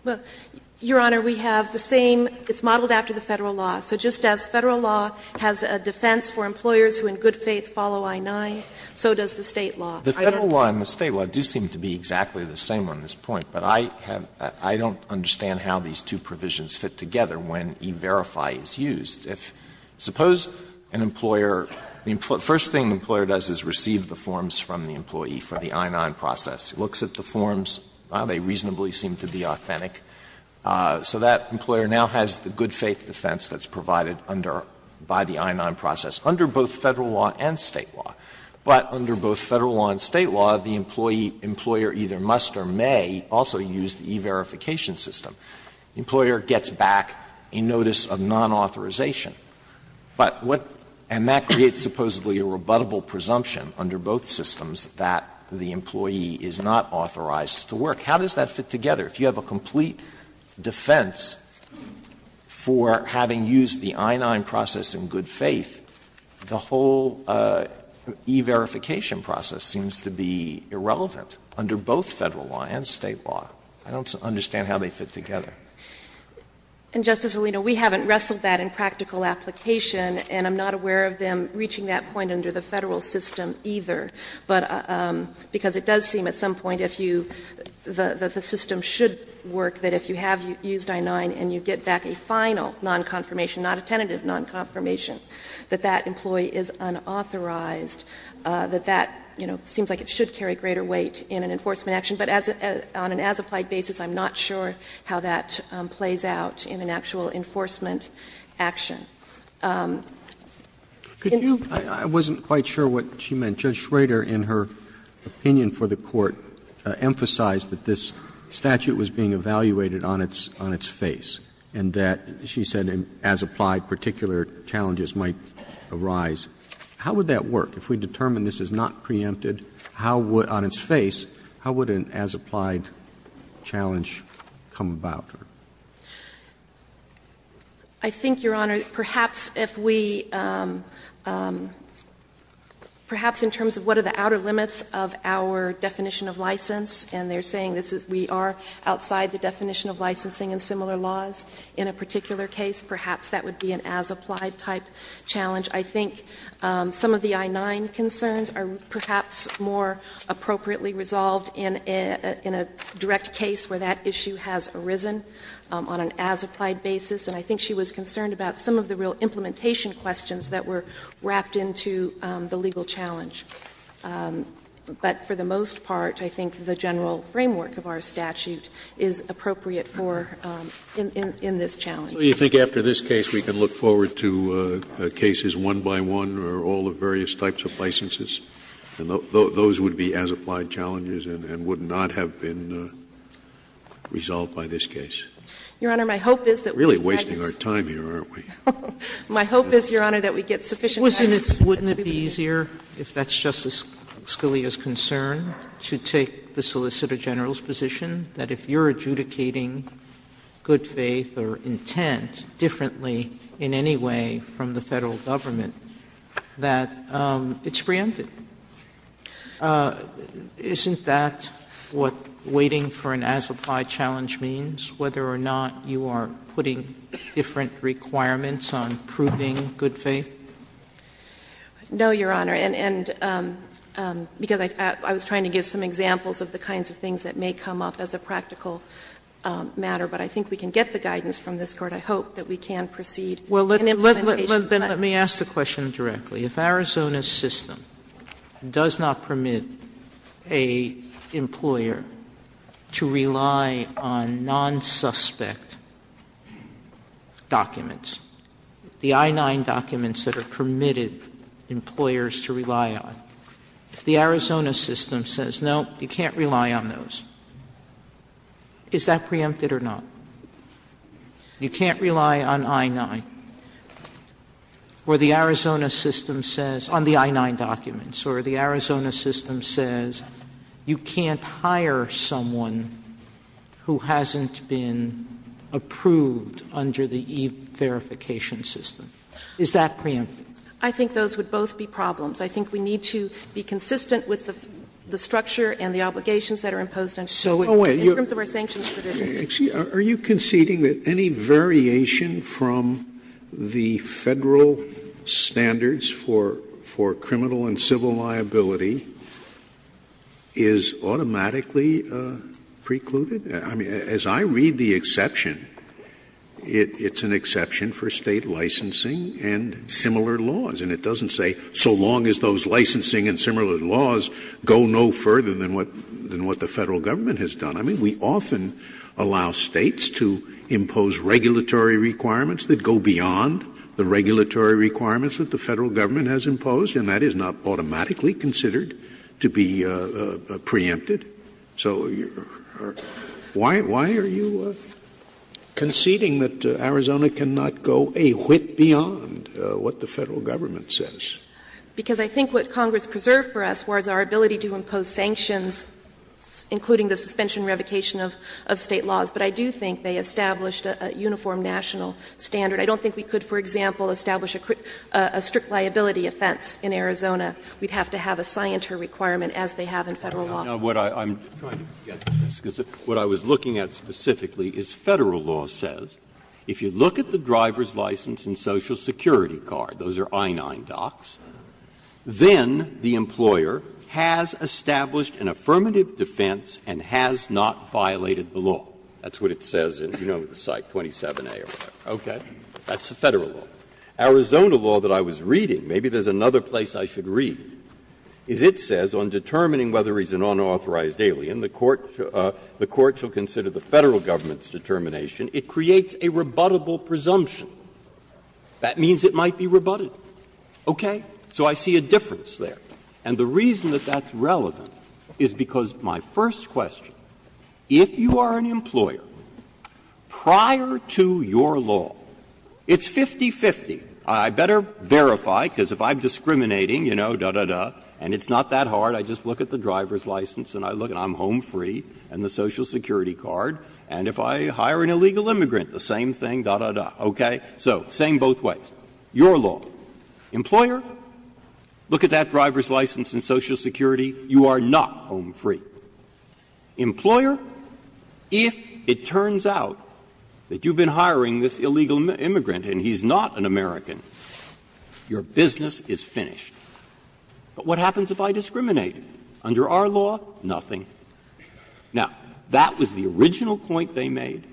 Well, Your Honor, we have the same – it's modeled after the Federal law. So just as Federal law has a defense for employers who in good faith follow I-9, so does the State law. The Federal law and the State law do seem to be exactly the same on this point, but I have – I don't understand how these two provisions fit together when E-verify is used. If – suppose an employer – the first thing the employer does is receive the forms from the employee for the I-9 process. It looks at the forms. Well, they reasonably seem to be authentic. So that employer now has the good faith defense that's provided under – by the I-9 process, under both Federal law and State law. But under both Federal law and State law, the employee – employer either must or may also use the E-verification system. The employer gets back a notice of nonauthorization. But what – and that creates supposedly a rebuttable presumption under both systems that the employee is not authorized to work. How does that fit together? If you have a complete defense for having used the I-9 process in good faith, the whole E-verification process seems to be irrelevant under both Federal law and State law. I don't understand how they fit together. And, Justice Alito, we haven't wrestled that in practical application, and I'm not aware of them reaching that point under the Federal system either, but – because it does seem at some point if you – that the system should work, that if you have used I-9 and you get back a final nonconfirmation, not a tentative nonconfirmation, that that employee is unauthorized, that that, you know, seems like it should carry greater weight in an enforcement action. But as – on an as-applied basis, I'm not sure how that plays out in an actual enforcement action. Roberts Could you – I wasn't quite sure what she meant. Judge Schrader, in her opinion for the Court, emphasized that this statute was being evaluated on its – on its face, and that, she said, as-applied particular challenges might arise. How would that work? If we determine this is not preempted, how would – on its face, how would an as-applied challenge come about? I think, Your Honor, perhaps if we – perhaps in terms of what are the outer limits of our definition of license, and they're saying this is – we are outside the definition of licensing in similar laws in a particular case, perhaps that would be an as-applied type challenge. I think some of the I-9 concerns are perhaps more appropriately resolved in a – in a direct case where that issue has arisen on an as-applied basis. And I think she was concerned about some of the real implementation questions that were wrapped into the legal challenge. But for the most part, I think the general framework of our statute is appropriate for in – in this challenge. Scalia So you think after this case we can look forward to cases one by one or all the various types of licenses? And those would be as-applied challenges and would not have been resolved by this case? You're really wasting our time here, aren't we? My hope is, Your Honor, that we get sufficient time. Sotomayor Wouldn't it be easier, if that's Justice Scalia's concern, to take the solicitor general's position that if you're adjudicating good faith or intent differently in any way from the Federal Government, that it's preempted? Isn't that what waiting for an as-applied challenge means, whether or not you are putting different requirements on proving good faith? Justice O'Connor No, Your Honor. And – and because I was trying to give some examples of the kinds of things that may come up as a practical matter, but I think we can get the guidance from this case and proceed in implementation time. Sotomayor Well, let – let – let me ask the question directly. If Arizona's system does not permit an employer to rely on non-suspect documents, the I-9 documents that are permitted employers to rely on, if the Arizona system says, no, you can't rely on those, is that preempted or not? You can't rely on I-9. Or the Arizona system says – on the I-9 documents. Or the Arizona system says you can't hire someone who hasn't been approved under the e-verification system. Is that preempted? Justice O'Connor I think those would both be problems. I think we need to be consistent with the structure and the obligations that are imposed on people. In terms of our sanctions provisions. Scalia Are you conceding that any variation from the Federal standards for – for criminal and civil liability is automatically precluded? I mean, as I read the exception, it's an exception for State licensing and similar laws. And it doesn't say, so long as those licensing and similar laws go no further than what – than what the Federal Government has done. I mean, we often allow States to impose regulatory requirements that go beyond the regulatory requirements that the Federal Government has imposed, and that is not automatically considered to be preempted. So why – why are you conceding that Arizona cannot go a whit beyond what the Federal Government says? Justice O'Connor Because I think what Congress preserved for us was our ability to impose sanctions, including the suspension and revocation of State laws. But I do think they established a uniform national standard. I don't think we could, for example, establish a strict liability offense in Arizona. We'd have to have a scienter requirement, as they have in Federal law. Breyer Now, what I'm trying to get to is what I was looking at specifically is Federal law says if you look at the driver's license and social security card, those are I-9 docs, then the employer has established an affirmative defense and has not violated the law. That's what it says in, you know, the site 27A or whatever. Okay? That's the Federal law. Arizona law that I was reading, maybe there's another place I should read, is it says on determining whether he's an unauthorized alien, the court should consider the Federal Government's determination, it creates a rebuttable presumption. That means it might be rebutted. Okay? So I see a difference there. And the reason that that's relevant is because my first question, if you are an employer, prior to your law, it's 50-50. I better verify, because if I'm discriminating, you know, da, da, da, and it's not that hard, I just look at the driver's license and I look and I'm home free and the social security card, and if I hire an illegal immigrant, the same thing, da, da, da. Okay? So same both ways. Your law. Employer, look at that driver's license and social security, you are not home free. Employer, if it turns out that you've been hiring this illegal immigrant and he's not an American, your business is finished. But what happens if I discriminate? Under our law, nothing. Now, that was the original point they made.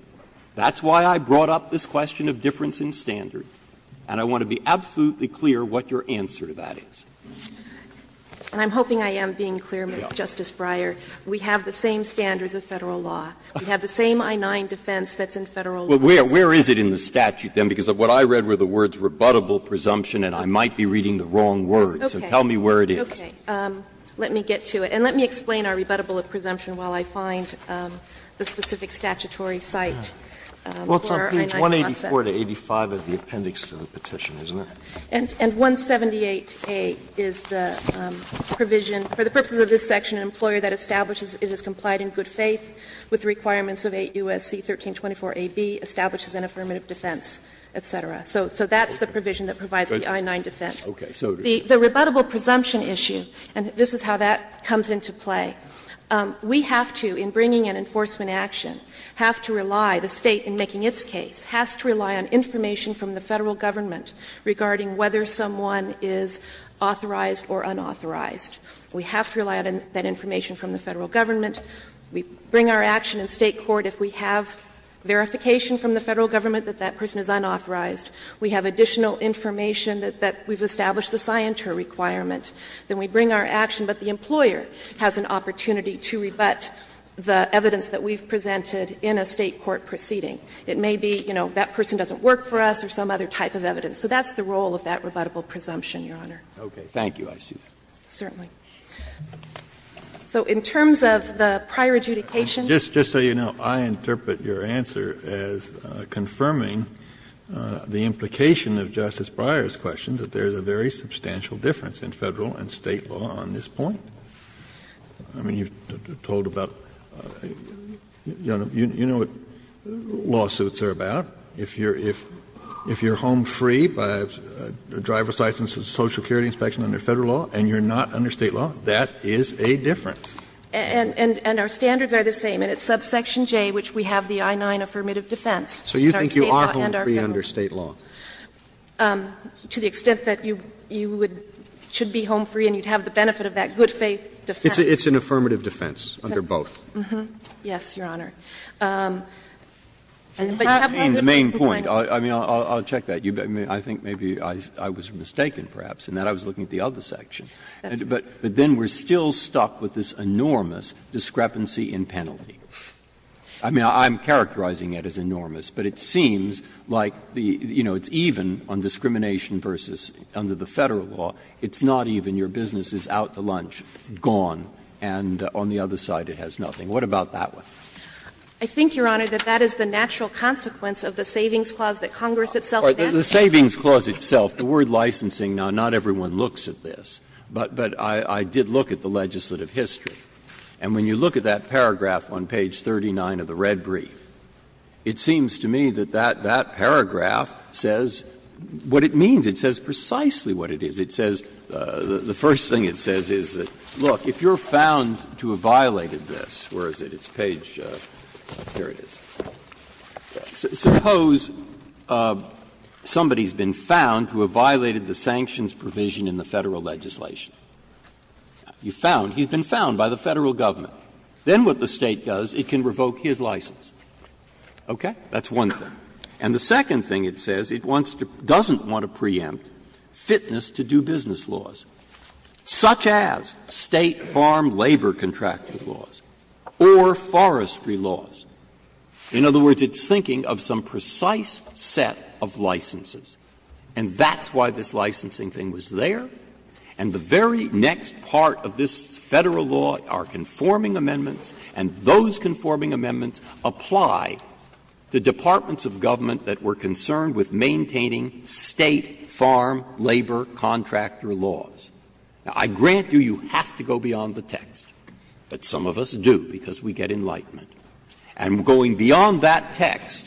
That's why I brought up this question of difference in standards, and I want to be absolutely clear what your answer to that is. And I'm hoping I am being clear, Mr. Justice Breyer. We have the same standards of Federal law. We have the same I-9 defense that's in Federal law. Well, where is it in the statute, then, because what I read were the words ''rebuttable presumption'' and I might be reading the wrong words, so tell me where it is. Okay. Let me get to it. And let me explain our rebuttable presumption while I find the specific statutory site for our I-9 process. Well, it's on page 184 to 85 of the appendix to the petition, isn't it? And 178A is the provision, for the purposes of this section, an employer that establishes it as complied in good faith with the requirements of 8 U.S.C. 1324a)(b, establishes an affirmative defense, et cetera. So that's the provision that provides the I-9 defense. Okay. So the rebuttable presumption issue, and this is how that comes into play, we have to, in bringing an enforcement action, have to rely, the State, in making its case, has to rely on information from the Federal government regarding whether someone is authorized or unauthorized. We have to rely on that information from the Federal government. We bring our action in State court if we have verification from the Federal government that that person is unauthorized. We have additional information that we've established the scienter requirement. Then we bring our action, but the employer has an opportunity to rebut the evidence that we've presented in a State court proceeding. It may be, you know, that person doesn't work for us or some other type of evidence. So that's the role of that rebuttable presumption, Your Honor. Roberts. Okay. Thank you. I see that. Certainly. So in terms of the prior adjudication. Just so you know, I interpret your answer as confirming the implication of Justice Kagan that there is a substantial difference in Federal and State law on this point. I mean, you've told about, Your Honor, you know what lawsuits are about. If you're home free by driver's license and Social Security inspection under Federal law, and you're not under State law, that is a difference. And our standards are the same, and it's subsection J, which we have the I-9 affirmative defense. So you think you are home free under State law? To the extent that you would be home free and you'd have the benefit of that good faith defense. It's an affirmative defense under both. Yes, Your Honor. But you have no good faith complaint. The main point, I mean, I'll check that. I think maybe I was mistaken, perhaps, in that I was looking at the other section. But then we're still stuck with this enormous discrepancy in penalty. I mean, I'm characterizing it as enormous, but it seems like the, you know, it's even on discrimination versus under the Federal law. It's not even your business is out to lunch, gone, and on the other side it has nothing. What about that one? I think, Your Honor, that that is the natural consequence of the savings clause that Congress itself enacted. The savings clause itself, the word licensing, now, not everyone looks at this. But I did look at the legislative history. And when you look at that paragraph on page 39 of the red brief, it seems to me that that paragraph says what it means. It says precisely what it is. It says, the first thing it says is that, look, if you're found to have violated this, where is it? It's page — here it is. Suppose somebody has been found to have violated the sanctions provision in the Federal legislation. You found, he's been found by the Federal Government. Then what the State does, it can revoke his license. Okay? That's one thing. And the second thing it says, it wants to — doesn't want to preempt fitness to do business laws, such as State farm labor contract laws or forestry laws. In other words, it's thinking of some precise set of licenses. And that's why this licensing thing was there. And the very next part of this Federal law are conforming amendments, and those conforming amendments apply to departments of government that were concerned with maintaining State farm labor contractor laws. Now, I grant you, you have to go beyond the text, but some of us do because we get enlightenment. And going beyond that text,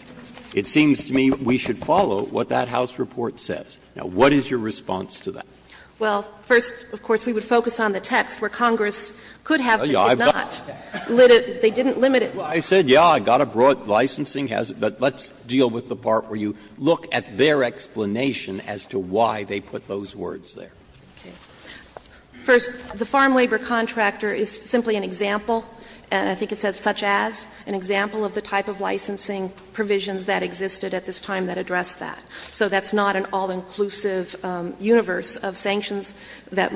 it seems to me we should follow what that House report says. Now, what is your response to that? Well, first, of course, we would focus on the text, where Congress could have, but did not. They didn't limit it. Well, I said, yes, I got a broad licensing. But let's deal with the part where you look at their explanation as to why they put those words there. Okay. First, the farm labor contractor is simply an example, and I think it says such as, an example of the type of licensing provisions that existed at this time that addressed that. So that's not an all-inclusive universe of sanctions that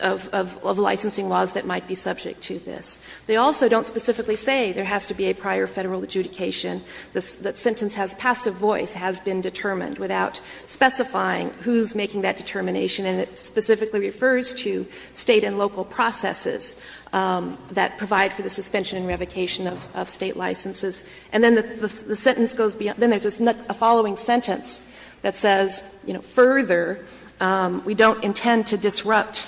of licensing laws that might be subject to this. They also don't specifically say there has to be a prior Federal adjudication, that sentence has passive voice, has been determined, without specifying who is making that determination, and it specifically refers to State and local processes that provide for the suspension and revocation of State licenses. And then the sentence goes beyond. Then there's a following sentence that says, you know, further, we don't intend to disrupt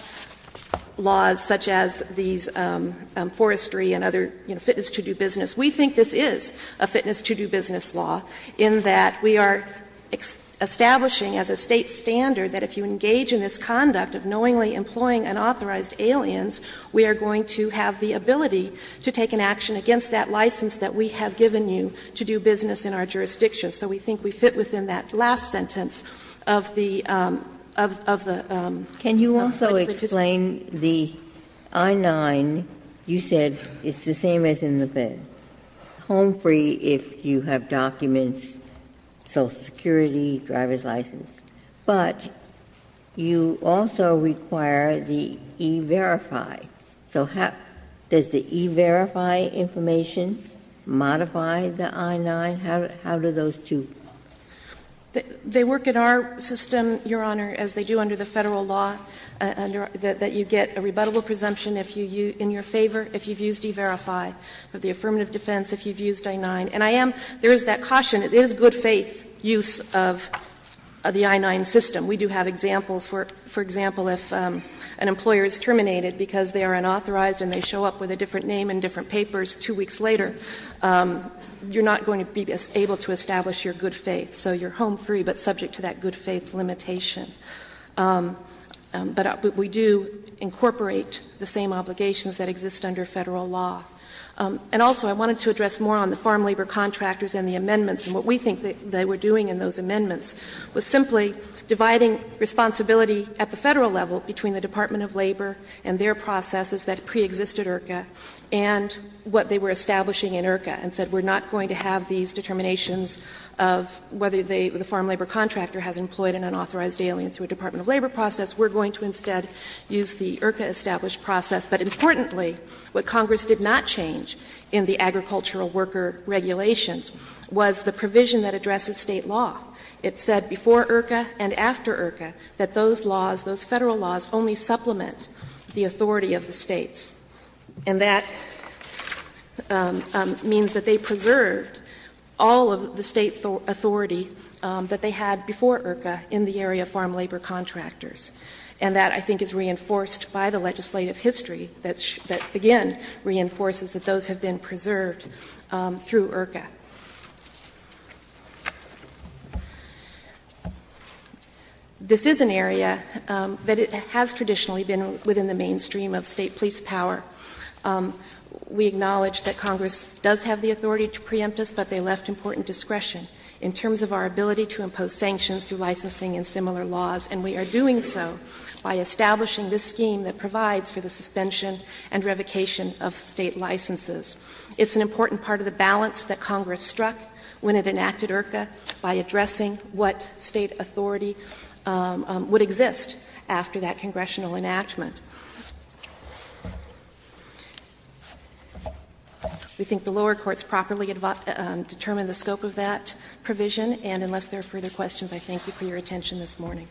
laws such as these forestry and other, you know, fitness to do business. We think this is a fitness to do business law, in that we are establishing as a State standard that if you engage in this conduct of knowingly employing unauthorized aliens, we are going to have the ability to take an action against that license that we have given you to do business in our jurisdiction. So we think we fit within that last sentence of the, of the legislation. Ginsburg-Can you also explain the I-9, you said it's the same as in the PED, home free if you have documents, Social Security, driver's license, but you also require the E-Verify. So how, does the E-Verify information modify the I-9? How, how do those two? They work in our system, Your Honor, as they do under the Federal law, that you get a rebuttable presumption if you, in your favor, if you've used E-Verify. But the affirmative defense, if you've used I-9, and I am, there is that caution, it is good faith use of the I-9 system. We do have examples, for example, if an employer is terminated because they are unauthorized and they show up with a different name and different papers two weeks later, you're not going to be able to establish your good faith. So you're home free, but subject to that good faith limitation. But we do incorporate the same obligations that exist under Federal law. And also, I wanted to address more on the farm labor contractors and the amendments, and what we think they were doing in those amendments was simply dividing responsibility at the Federal level between the Department of Labor and their processes that preexisted IRCA and what they were establishing in IRCA, and said we're not going to have these determinations of whether the farm labor contractor has employed an unauthorized alien through a Department of Labor process, we're going to instead use the IRCA-established process. But importantly, what Congress did not change in the agricultural worker regulations was the provision that addresses State law. It said before IRCA and after IRCA that those laws, those Federal laws only supplement the authority of the States, and that means that they preserved all of the State authority that they had before IRCA in the area of farm labor contractors. And that, I think, is reinforced by the legislative history that, again, reinforces that those have been preserved through IRCA. This is an area that has traditionally been within the mainstream of State police power. We acknowledge that Congress does have the authority to preempt us, but they left important discretion in terms of our ability to impose sanctions through licensing and similar laws. And we are doing so by establishing this scheme that provides for the suspension and revocation of State licenses. It's an important part of the balance that Congress struck when it enacted IRCA by addressing what State authority would exist after that congressional enactment. I think the lower courts properly determined the scope of that provision, and unless there are further questions, I thank you for your attention this morning.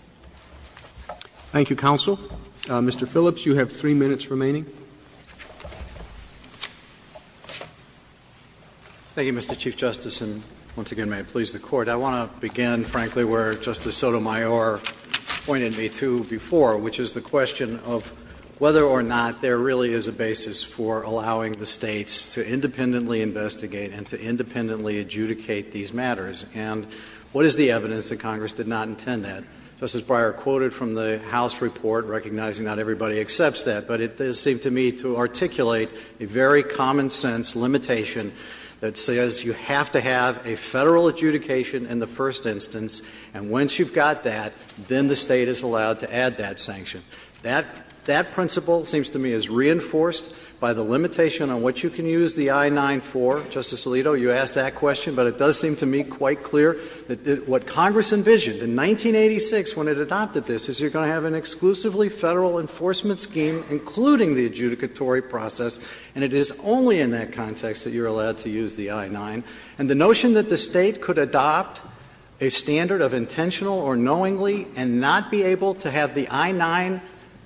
Roberts. Thank you, counsel. Mr. Phillips, you have three minutes remaining. Thank you, Mr. Chief Justice, and once again, may it please the Court. I want to begin, frankly, where Justice Sotomayor pointed me to before, which is the question of whether or not there really is a basis for allowing the States to independently investigate and to independently adjudicate these matters. And what is the evidence that Congress did not intend that? Justice Breyer quoted from the House report, recognizing not everybody accepts that, but it does seem to me to articulate a very common sense limitation that says you have to have a Federal adjudication in the first instance, and once you've got that, then the State is allowed to add that sanction. That principle seems to me is reinforced by the limitation on what you can use the I-94. Justice Alito, you asked that question, but it does seem to me quite clear that what Congress envisioned in 1986 when it adopted this is you're going to have an exclusively Federal enforcement scheme including the adjudicatory process, and it is only in that context that you're allowed to use the I-9. And the notion that the State could adopt a standard of intentional or knowingly and not be able to have the I-9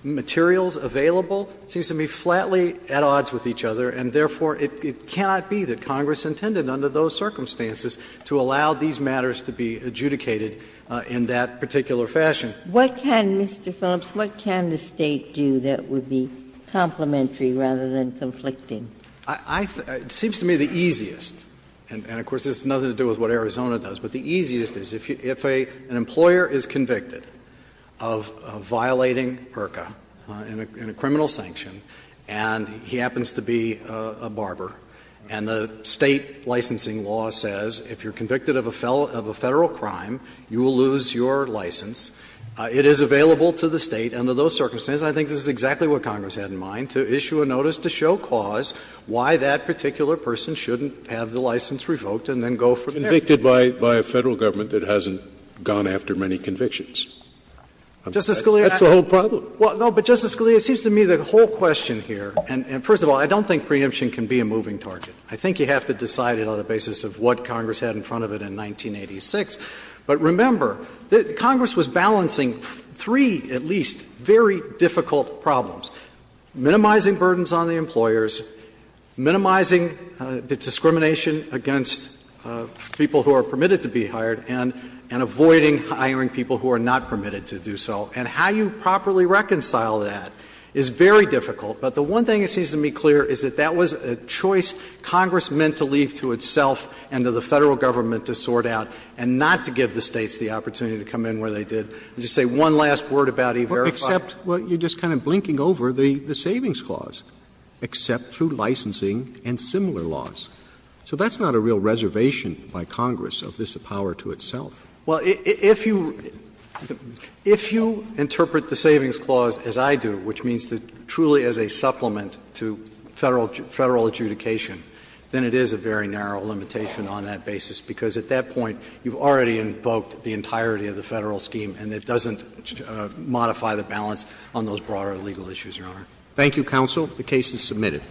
materials available seems to me flatly at odds with each other, and therefore, it cannot be that Congress intended under those circumstances to allow these matters to be adjudicated in that particular fashion. Ginsburg. What can, Mr. Phillips, what can the State do that would be complementary rather than conflicting? Phillips. It seems to me the easiest, and of course, this has nothing to do with what Arizona does, but the easiest is if an employer is convicted of violating PRCA in a criminal sanction, and he happens to be a barber, and the State licensing law says, and the if you're convicted of a Federal crime, you will lose your license, it is available to the State under those circumstances. I think this is exactly what Congress had in mind, to issue a notice to show cause why that particular person shouldn't have the license revoked and then go from there. Scalia. It's convicted by a Federal government that hasn't gone after many convictions. Phillips. Justice Scalia, that's the whole problem. No, but Justice Scalia, it seems to me the whole question here, and first of all, I don't think preemption can be a moving target. I think you have to decide it on the basis of what Congress had in front of it in 1986. But remember, Congress was balancing three, at least, very difficult problems, minimizing burdens on the employers, minimizing the discrimination against people who are permitted to be hired, and avoiding hiring people who are not permitted to do so. And how you properly reconcile that is very difficult. But the one thing that seems to me clear is that that was a choice Congress meant to leave to itself and to the Federal government to sort out and not to give the States the opportunity to come in where they did and just say one last word about E-Verify. Roberts. Except, well, you're just kind of blinking over the Savings Clause, except through licensing and similar laws. So that's not a real reservation by Congress of this power to itself. Well, if you interpret the Savings Clause as I do, which means that truly as a State it is a supplement to Federal adjudication, then it is a very narrow limitation on that basis. Because at that point, you've already invoked the entirety of the Federal scheme and it doesn't modify the balance on those broader legal issues, Your Honor. Thank you, counsel. The case is submitted.